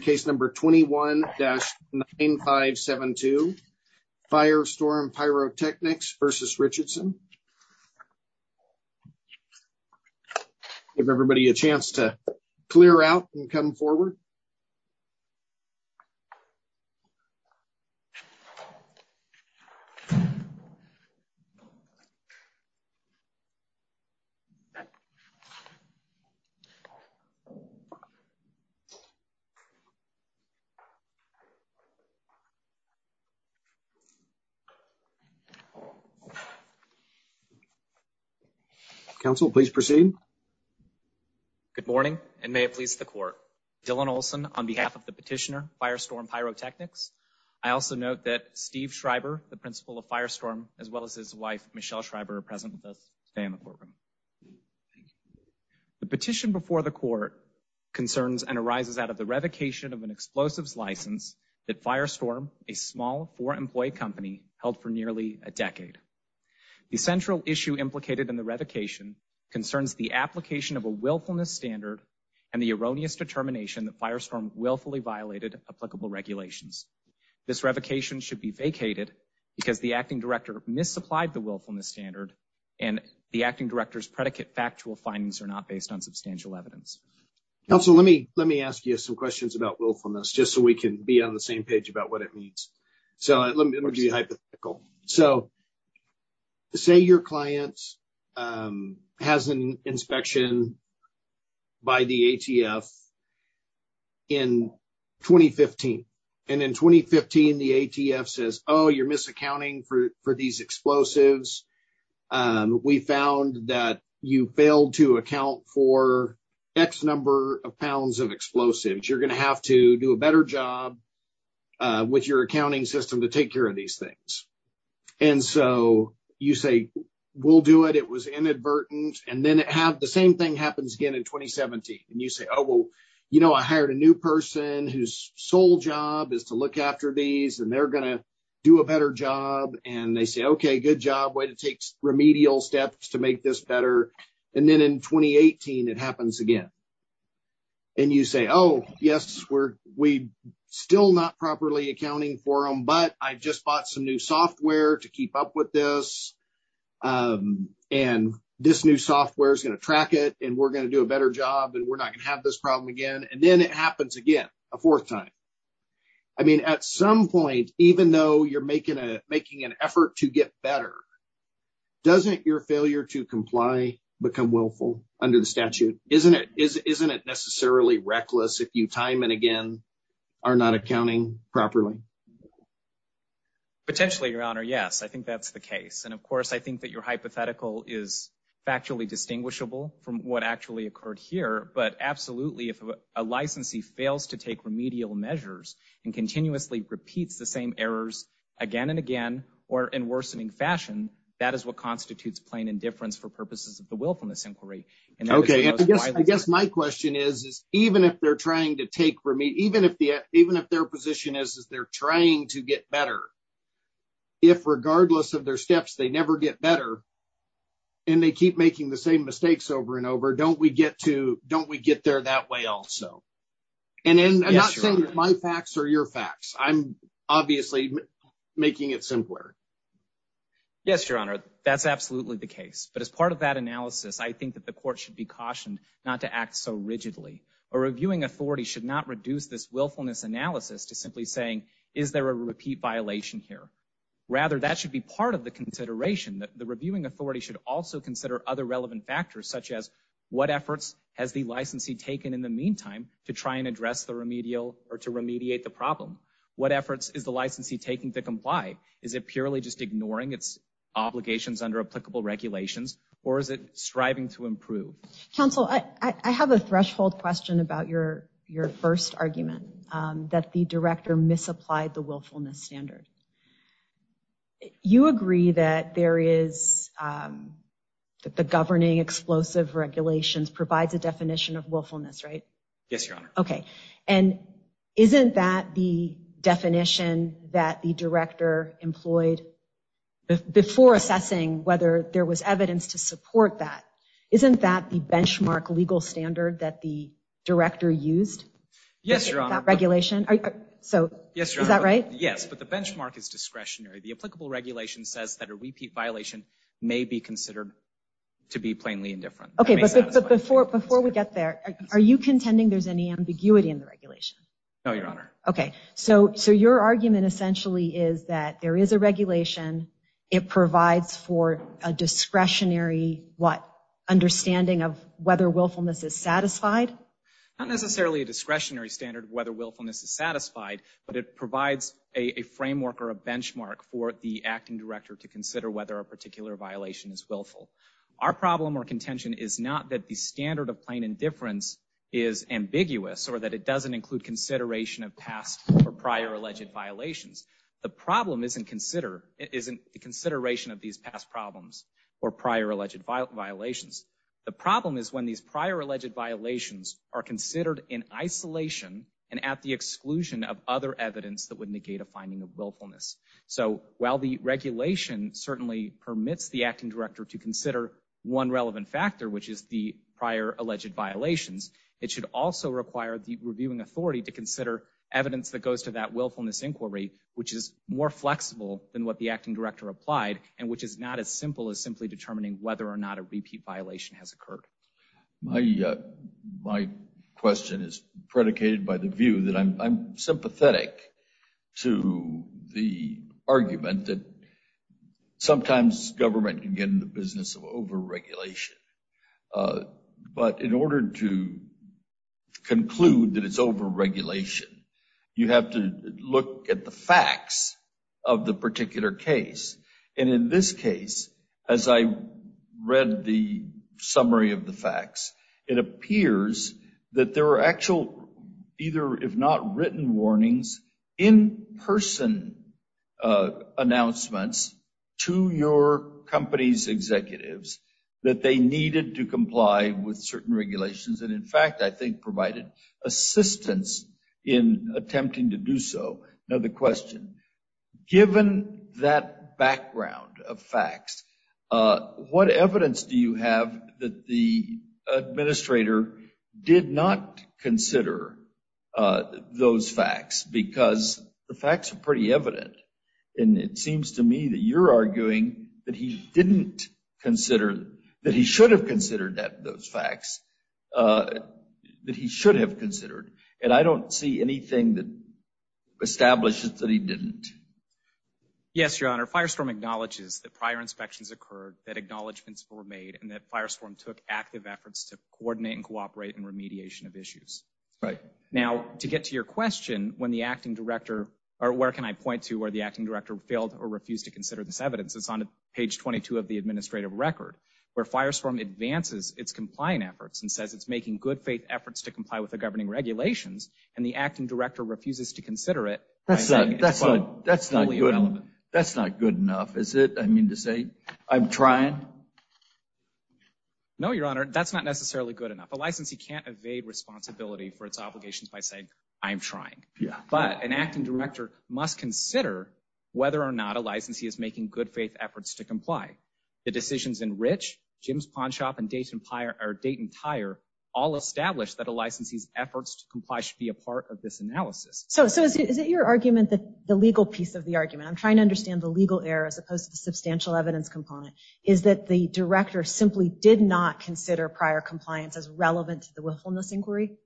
Case number 21-9572, Firestorm Pyrotechnics v. Richardson. Give everybody a chance to clear out and come forward. Counsel, please proceed. Good morning, and may it please the court. Dylan Olson on behalf of the petitioner, Firestorm Pyrotechnics. I also note that Steve Schreiber, the principal of Firestorm, as well as his wife, Michelle Schreiber, are present with us today in the courtroom. Thank you. The petition before the court concerns and arises out of the revocation of an explosives license that Firestorm, a small four-employee company, held for nearly a decade. The central issue implicated in the revocation concerns the application of a willfulness standard and the erroneous determination that Firestorm willfully violated applicable regulations. This revocation should be vacated because the acting director misapplied the willfulness standard and the acting director's predicate factual findings are not based on substantial evidence. Counsel, let me let me ask you some questions about willfulness just so we can be on the same page about what it means. So let me do the hypothetical. So say your client has an inspection by the ATF in 2015, and in 2015 the ATF says, oh, you're misaccounting for these explosives. We found that you failed to account for X number of pounds of explosives. You're going to have to do a better job with your accounting system to take care of these things. And so you say, we'll do it. It was inadvertent. And then the same thing happens again in 2017. And you say, oh, well, you know, I hired a new person whose sole job is to look after these, and they're going to do a better job. And they say, okay, good job. Way to take remedial steps to make this better. And then in 2018, it happens again. And you say, oh, yes, we're we still not properly accounting for them, but I just bought some new software to keep up with this. And this new software is going to track it, and we're going to do a better job, and we're not going to have this problem again. And then it happens again, a fourth time. I mean, at some point, even though you're making an effort to get better, doesn't your failure to comply become willful under the statute? Isn't it necessarily reckless if you time and again are not accounting properly? Potentially, your honor. Yes, I think that's the case. And of course, I think that your hypothetical is factually distinguishable from what actually occurred here. But absolutely, if a licensee fails to take remedial measures, and continuously repeats the same errors again and again, or in worsening fashion, that is what constitutes plain indifference for purposes of the willfulness inquiry. Okay, I guess my question is, even if they're trying to take for me, even if the even if their position is they're trying to get better, if regardless of their steps, they never get better, and they keep making the same mistakes over and over, don't we get to don't we get there that way also? And then I'm not saying my facts are your facts. I'm obviously making it simpler. Yes, your honor. That's absolutely the case. But as part of that analysis, I think that the court should be cautioned not to act so rigidly. A reviewing authority should not reduce this willfulness analysis to simply saying, is there a repeat violation here? Rather, that should be part of the consideration that the reviewing authority should also consider other relevant factors such as what efforts has the licensee taken in the meantime to try and address the remedial or to remediate the problem? What efforts is the licensee taking to comply? Is it purely just ignoring its obligations under applicable regulations? Or is it striving to improve? Counsel, I have a threshold question about your your first argument, that the director misapplied the willfulness standard. You agree that there is that the governing explosive regulations provides a definition of willfulness, right? Yes, your honor. Okay, and isn't that the definition that the director employed before assessing whether there was evidence to support that? Isn't that the regulation? So, is that right? Yes, but the benchmark is discretionary. The applicable regulation says that a repeat violation may be considered to be plainly indifferent. Okay, before we get there, are you contending there's any ambiguity in the regulation? No, your honor. Okay, so your argument essentially is that there is a regulation, it provides for a discretionary, what, understanding of whether willfulness is satisfied? Not necessarily a discretionary standard of whether willfulness is satisfied, but it provides a framework or a benchmark for the acting director to consider whether a particular violation is willful. Our problem or contention is not that the standard of plain indifference is ambiguous or that it doesn't include consideration of past or prior alleged violations. The problem isn't consider, isn't the consideration of these past problems or prior alleged violations. The problem is when these prior alleged violations are considered in isolation and at the exclusion of other evidence that would negate a finding of willfulness. So, while the regulation certainly permits the acting director to consider one relevant factor, which is the prior alleged violations, it should also require the reviewing authority to consider evidence that goes to that willfulness inquiry, which is more flexible than what the acting applied and which is not as simple as simply determining whether or not a repeat violation has occurred. My question is predicated by the view that I'm sympathetic to the argument that sometimes government can get in the business of over-regulation. But in order to conclude that it's over-regulation, you have to look at the facts of the particular case. And in this case, as I read the summary of the facts, it appears that there are actual, either if not written warnings, in-person announcements to your company's executives that they needed to comply with certain regulations. And in fact, I think provided assistance in attempting to do so. Another question. Given that background of facts, what evidence do you have that the administrator did not consider those facts? Because the facts are pretty evident. And it seems to me that you're arguing that he didn't that he should have considered. And I don't see anything that establishes that he didn't. Yes, Your Honor. Firestorm acknowledges that prior inspections occurred, that acknowledgements were made, and that Firestorm took active efforts to coordinate and cooperate in remediation of issues. Right. Now, to get to your question, when the acting director, or where can I point to where the acting director failed or refused to consider this evidence? It's on page 22 of the administrative record, where Firestorm advances its complying efforts and says it's making good faith efforts to comply with the governing regulations. And the acting director refuses to consider it. That's not good enough, is it? I mean to say, I'm trying. No, Your Honor, that's not necessarily good enough. A licensee can't evade responsibility for its obligations by saying, I'm trying. But an acting director must consider whether or not a licensee is making good faith efforts to comply. The decisions in Rich, Jim's Pawn Shop, and Dayton Tire all establish that a licensee's efforts to comply should be a part of this analysis. So is it your argument that the legal piece of the argument, I'm trying to understand the legal error as opposed to the substantial evidence component, is that the director simply did not consider prior compliance as relevant to the willfulness inquiry?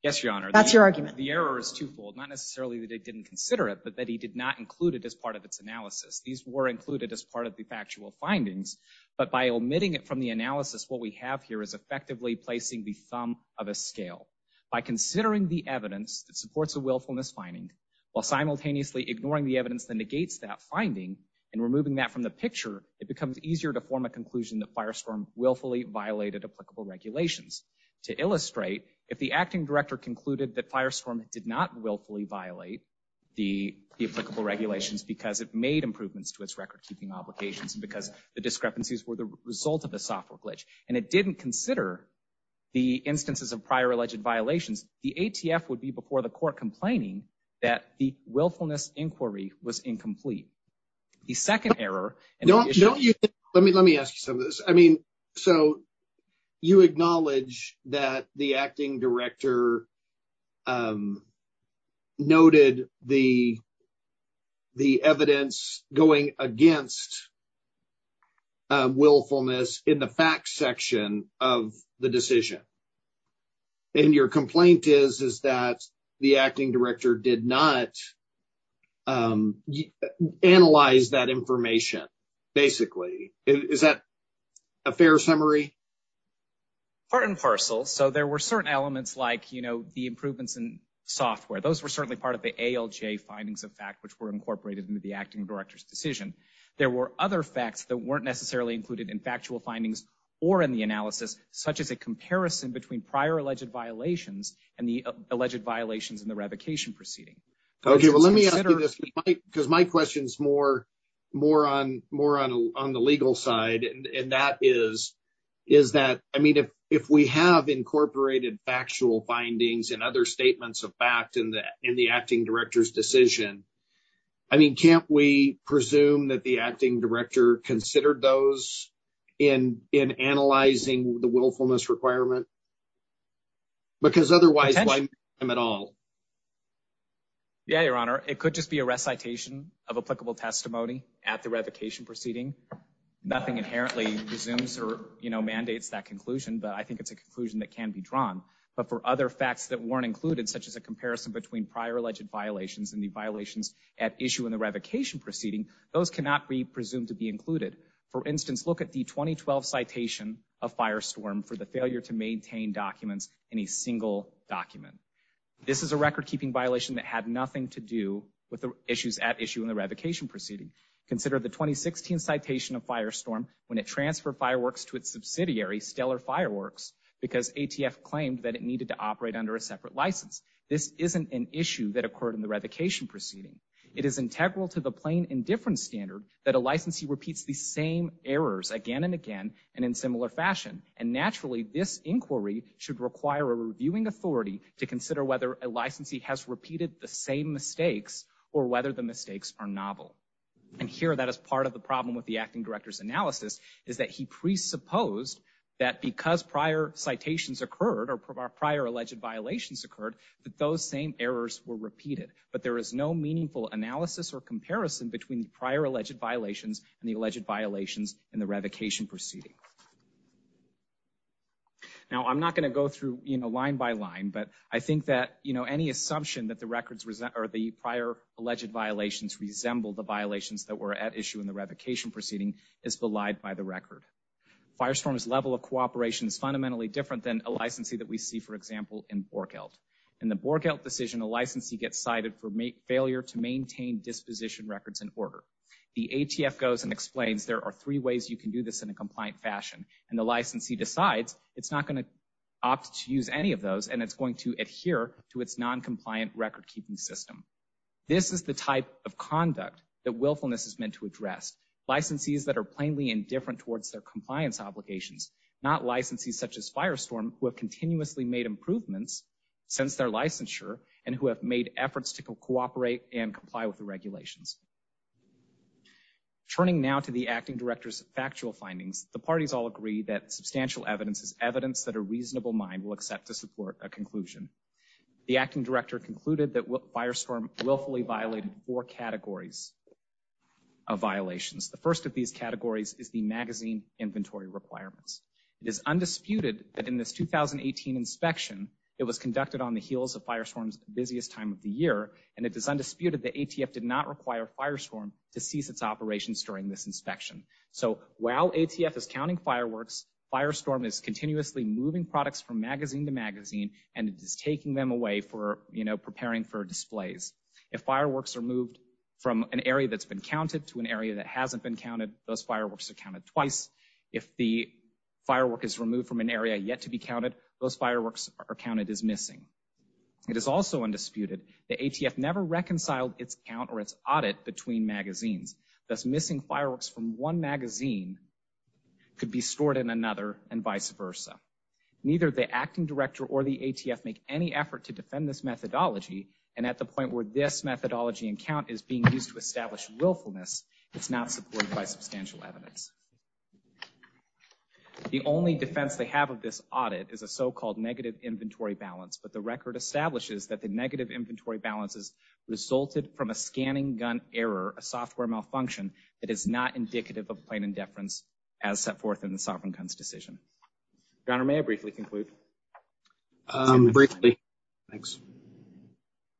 Yes, Your Honor. That's your argument. The error is twofold. Not necessarily that he didn't consider it, but that he did not include it as part of its analysis. These were included as part of the factual findings. But by omitting it from the analysis, what we have here is effectively placing the thumb of a scale. By considering the evidence that supports a willfulness finding, while simultaneously ignoring the evidence that negates that finding and removing that from the picture, it becomes easier to form a conclusion that Firestorm willfully violated applicable regulations. To illustrate, if the acting director concluded that Firestorm did not willfully violate the applicable regulations because it made improvements to its record-keeping obligations, because the discrepancies were the result of a software glitch, and it didn't consider the instances of prior alleged violations, the ATF would be before the court complaining that the willfulness inquiry was incomplete. The second error... Let me ask you some of this. I mean, so you acknowledge that the acting director noted the evidence going against willfulness in the facts section of the decision. And your complaint is, is that the acting director did not analyze that information, basically. Is that a fair summary? Part and parcel. So there were certain elements like, you know, the improvements in software. Those were certainly part of the ALJ findings of fact, which were incorporated into the acting director's decision. There were other facts that weren't necessarily included in factual findings or in the analysis, such as a comparison between prior alleged violations and the alleged violations in the revocation proceeding. Okay, well, let me ask you this, because my question's more on the legal side, and that is, is that, I mean, if we have incorporated factual findings and other statements of fact in the acting director's decision, I mean, can't we presume that the acting director considered those in analyzing the willfulness requirement? Because otherwise, why make them at all? Yeah, Your Honor, it could just be a recitation applicable testimony at the revocation proceeding. Nothing inherently resumes or, you know, mandates that conclusion, but I think it's a conclusion that can be drawn. But for other facts that weren't included, such as a comparison between prior alleged violations and the violations at issue in the revocation proceeding, those cannot be presumed to be included. For instance, look at the 2012 citation of Firestorm for the failure to maintain documents in a single document. This is a record-keeping violation that had nothing to do with the issues at issue in the revocation proceeding. Consider the 2016 citation of Firestorm when it transferred fireworks to its subsidiary, Stellar Fireworks, because ATF claimed that it needed to operate under a separate license. This isn't an issue that occurred in the revocation proceeding. It is integral to the plain indifference standard that a licensee repeats the same errors again and again, and in similar fashion. And naturally, this inquiry should require a reviewing authority to consider whether a novel. And here, that is part of the problem with the acting director's analysis, is that he presupposed that because prior citations occurred or prior alleged violations occurred, that those same errors were repeated. But there is no meaningful analysis or comparison between the prior alleged violations and the alleged violations in the revocation proceeding. Now, I'm not going to go through, you know, line by line, but I think that, you know, any assumption that the records or the prior alleged violations resemble the violations that were at issue in the revocation proceeding is belied by the record. Firestorm's level of cooperation is fundamentally different than a licensee that we see, for example, in Borkelt. In the Borkelt decision, a licensee gets cited for failure to maintain disposition records in order. The ATF goes and explains there are three ways you can do this in a compliant fashion, and the licensee decides it's not going to opt to use any of those, and it's going to adhere to its non-compliant record-keeping system. This is the type of conduct that willfulness is meant to address. Licensees that are plainly indifferent towards their compliance obligations, not licensees such as Firestorm, who have continuously made improvements since their licensure and who have made efforts to cooperate and comply with the regulations. Turning now to the acting director's factual findings, the parties all agree that substantial evidence is evidence that a reasonable mind will accept to support a conclusion. The acting director concluded that Firestorm willfully violated four categories of violations. The first of these categories is the magazine inventory requirements. It is undisputed that in this 2018 inspection, it was conducted on the heels of Firestorm's busiest time of the year, and it is undisputed that ATF did not require Firestorm to cease its operations during this inspection. So while ATF is counting fireworks, Firestorm is continuously moving products from magazine to magazine, and it is taking them away for, you know, preparing for displays. If fireworks are moved from an area that's been counted to an area that hasn't been counted, those fireworks are counted twice. If the firework is removed from an area yet to be counted, those fireworks are counted as missing. It is also undisputed that ATF never reconciled its count or its audit between magazines, thus missing fireworks from one magazine could be Neither the acting director or the ATF make any effort to defend this methodology, and at the point where this methodology and count is being used to establish willfulness, it's not supported by substantial evidence. The only defense they have of this audit is a so-called negative inventory balance, but the record establishes that the negative inventory balances resulted from a scanning gun error, a software malfunction, that is not indicative of plain indifference as set forth in the sovereign guns decision. Your Honor, may I briefly conclude? Briefly. Thanks.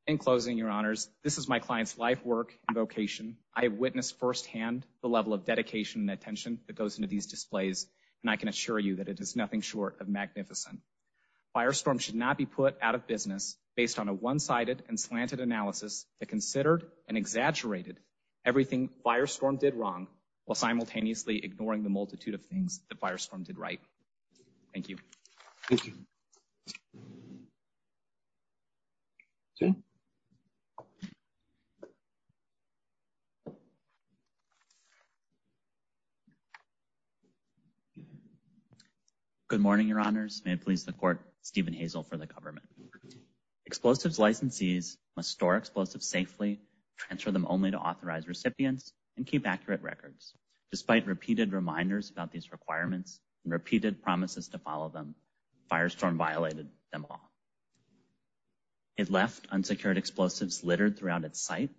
In closing, Your Honors, this is my client's life, work, and vocation. I have witnessed firsthand the level of dedication and attention that goes into these displays, and I can assure you that it is nothing short of magnificent. Firestorm should not be put out of business based on a one-sided and slanted analysis that considered and exaggerated everything Firestorm did wrong, while simultaneously ignoring the multitude of things that Firestorm did right. Thank you. Good morning, Your Honors. May it please the Court, Stephen Hazel for the government. Explosives licensees must store explosives safely, transfer them only to authorized recipients, and keep accurate records. Despite repeated reminders about these requirements and repeated promises to follow them, Firestorm violated them all. It left unsecured explosives littered throughout its site,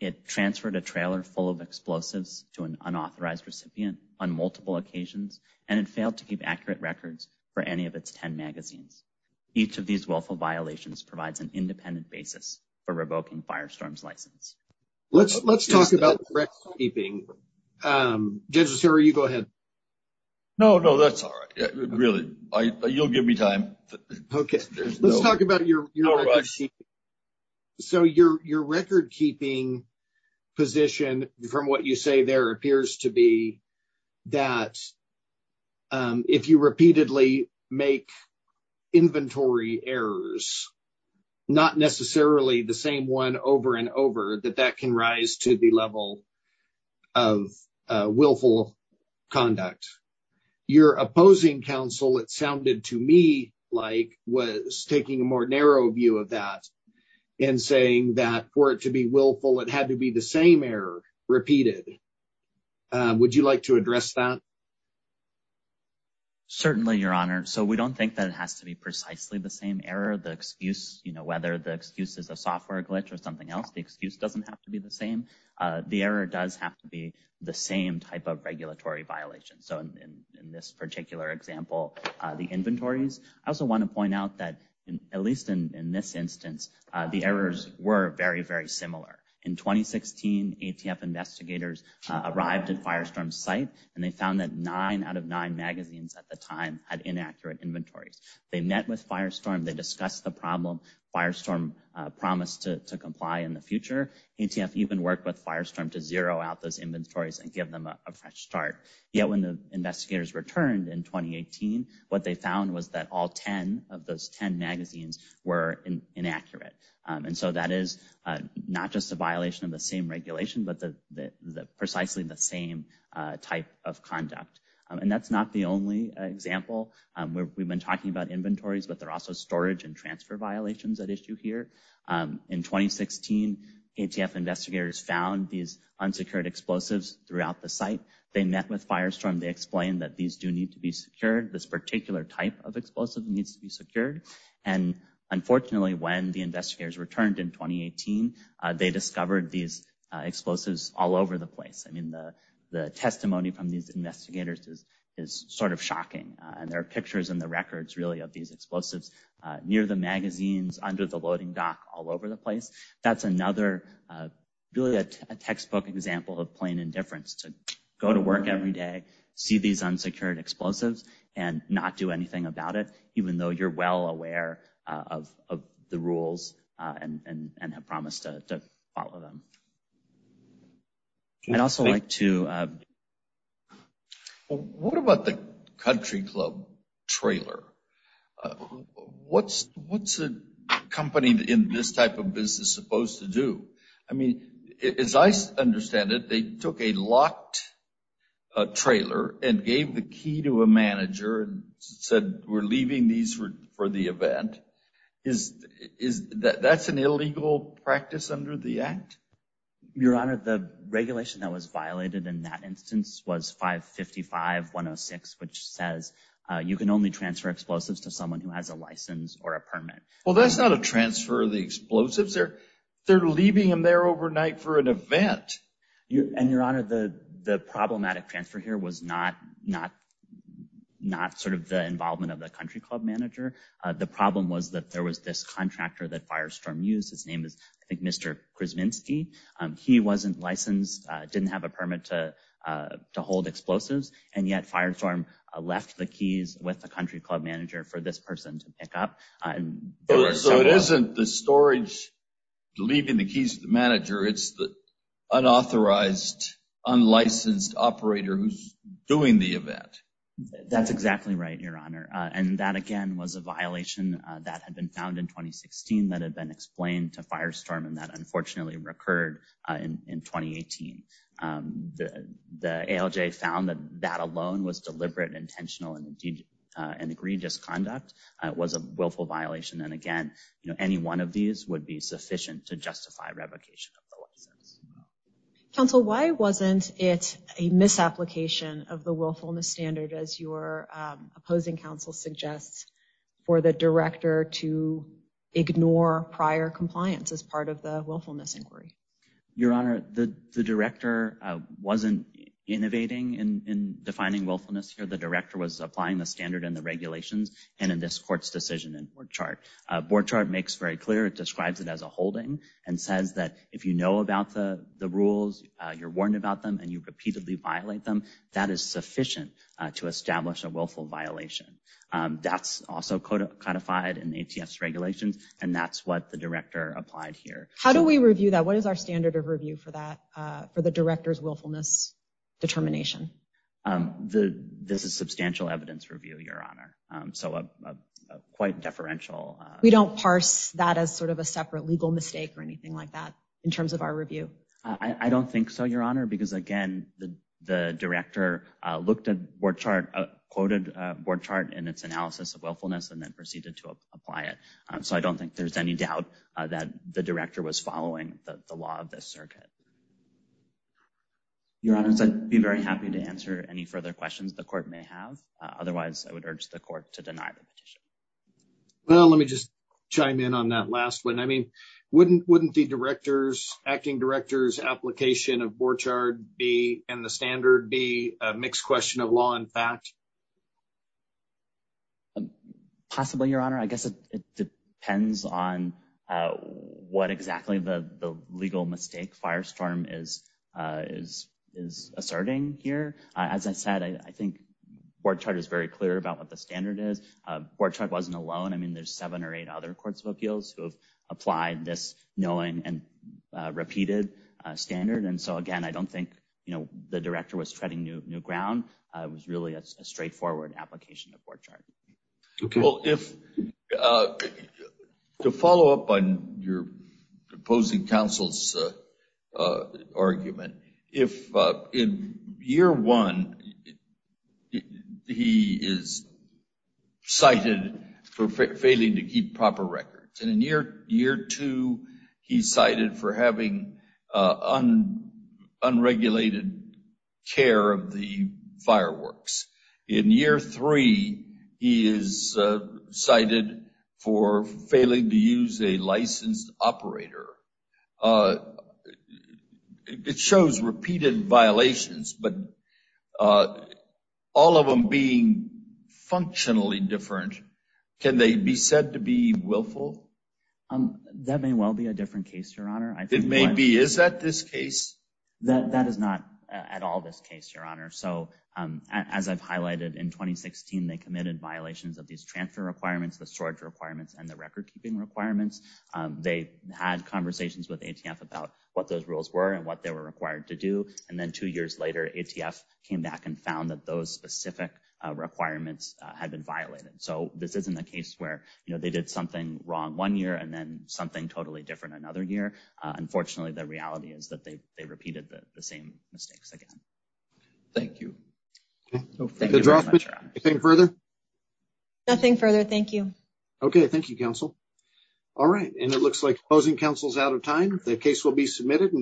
it transferred a trailer full of explosives to an unauthorized recipient on multiple occasions, and it failed to keep accurate records for any of its 10 magazines. Each of these willful violations provides an independent basis for revoking Firestorm's recordkeeping. Judge Lucero, you go ahead. No, no, that's all right. Really, you'll give me time. Okay. Let's talk about your recordkeeping. So, your recordkeeping position, from what you say there, appears to be that if you repeatedly make inventory errors, not necessarily the same one over and over, that that can rise to the level of willful conduct. Your opposing counsel, it sounded to me like was taking a more narrow view of that and saying that for it to be willful, it had to be the same error repeated. Would you like to address that? Certainly, Your Honor. So, we don't think that it has to be precisely the same error, the excuse, you know, whether the excuse is a software glitch or something else, the excuse doesn't have to be the same. The error does have to be the same type of regulatory violation. So, in this particular example, the inventories. I also want to point out that, at least in this instance, the errors were very, very similar. In 2016, ATF investigators arrived at Firestorm's site, and they found that nine out of nine magazines at the time had inaccurate inventories. They met with Firestorm, they discussed the problem, Firestorm promised to comply in the future. ATF even worked with Firestorm to zero out those inventories and give them a fresh start. Yet, when the investigators returned in 2018, what they found was that all 10 of those 10 magazines were inaccurate. And so, that is not just a violation of the same regulation, but precisely the same type of conduct. And that's not the only example. We've been talking about inventories, but there are also storage and transfer violations at issue here. In 2016, ATF investigators found these unsecured explosives throughout the site. They met with Firestorm, they explained that these do need to be secured, this particular type of explosive needs to be secured. And unfortunately, when the investigators returned in 2018, they discovered these explosives all over the place. I mean, the experience with investigators is sort of shocking. And there are pictures in the records, really, of these explosives near the magazines, under the loading dock, all over the place. That's another, really, a textbook example of plain indifference to go to work every day, see these unsecured explosives, and not do anything about it, even though you're well aware of the rules and have followed them. I'd also like to... What about the country club trailer? What's a company in this type of business supposed to do? I mean, as I understand it, they took a locked trailer and gave the key to a manager and said, we're leaving these for the event. That's an illegal practice under the Act? Your Honor, the regulation that was violated in that instance was 555-106, which says you can only transfer explosives to someone who has a license or a permit. Well, that's not a transfer of the explosives. They're leaving them there overnight for an event. And Your Honor, the problematic transfer here was not sort of the problem was that there was this contractor that Firestorm used. His name is, I think, Mr. Krzywinski. He wasn't licensed, didn't have a permit to hold explosives, and yet Firestorm left the keys with the country club manager for this person to pick up. So it isn't the storage leaving the keys to the manager. It's the unauthorized, unlicensed operator who's doing the that had been found in 2016, that had been explained to Firestorm, and that unfortunately recurred in 2018. The ALJ found that that alone was deliberate, intentional, and an egregious conduct. It was a willful violation. And again, you know, any one of these would be sufficient to justify revocation of the license. Counsel, why wasn't it a misapplication of the director to ignore prior compliance as part of the willfulness inquiry? Your Honor, the director wasn't innovating in defining willfulness here. The director was applying the standard and the regulations. And in this court's decision in board chart, board chart makes very clear, it describes it as a holding and says that if you know about the rules, you're warned about them, and you repeatedly violate them, that is sufficient to establish a willful violation. That's also codified in ATS regulations, and that's what the director applied here. How do we review that? What is our standard of review for that, for the director's willfulness determination? This is substantial evidence review, Your Honor, so quite deferential. We don't parse that as sort of a separate legal mistake or anything like that in terms of our review? I don't think so, Your Honor, because again, the director looked at board chart, quoted board chart in its analysis of willfulness and then proceeded to apply it. So I don't think there's any doubt that the director was following the law of this circuit. Your Honor, I'd be very happy to answer any further questions the court may have. Otherwise, I would urge the court to deny the petition. Well, let me just chime in on that last one. I mean, wouldn't the director's, acting director's board chart and the standard be a mixed question of law and fact? Possibly, Your Honor. I guess it depends on what exactly the legal mistake Firestorm is asserting here. As I said, I think board chart is very clear about what the standard is. Board chart wasn't alone. I mean, there's seven or eight other courts of appeals who have this knowing and repeated standard. And so, again, I don't think, you know, the director was treading new ground. It was really a straightforward application of board chart. Well, to follow up on your opposing counsel's argument, if in year one, he is cited for failing to keep proper records. And in year two, he's cited for having unregulated care of the fireworks. In year three, he is cited for failing to use a licensed operator. It shows repeated violations, but all of them being functionally different, can they be said to be willful? That may well be a different case, Your Honor. It may be. Is that this case? That is not at all this case, Your Honor. So, as I've highlighted, in 2016, they committed violations of these transfer requirements, the storage requirements, and the record keeping requirements. They had conversations with ATF about what those rules were and what they were required to do. And then two years later, ATF came back and found that those specific requirements had been violated. So, this isn't a case where, you know, they did something wrong one year and then something totally different another year. Unfortunately, the reality is that they repeated the same mistakes again. Thank you. Nothing further? Nothing further. Thank you. Okay, thank you, counsel. All right, and it looks like closing counsel's out of time. The case will be submitted.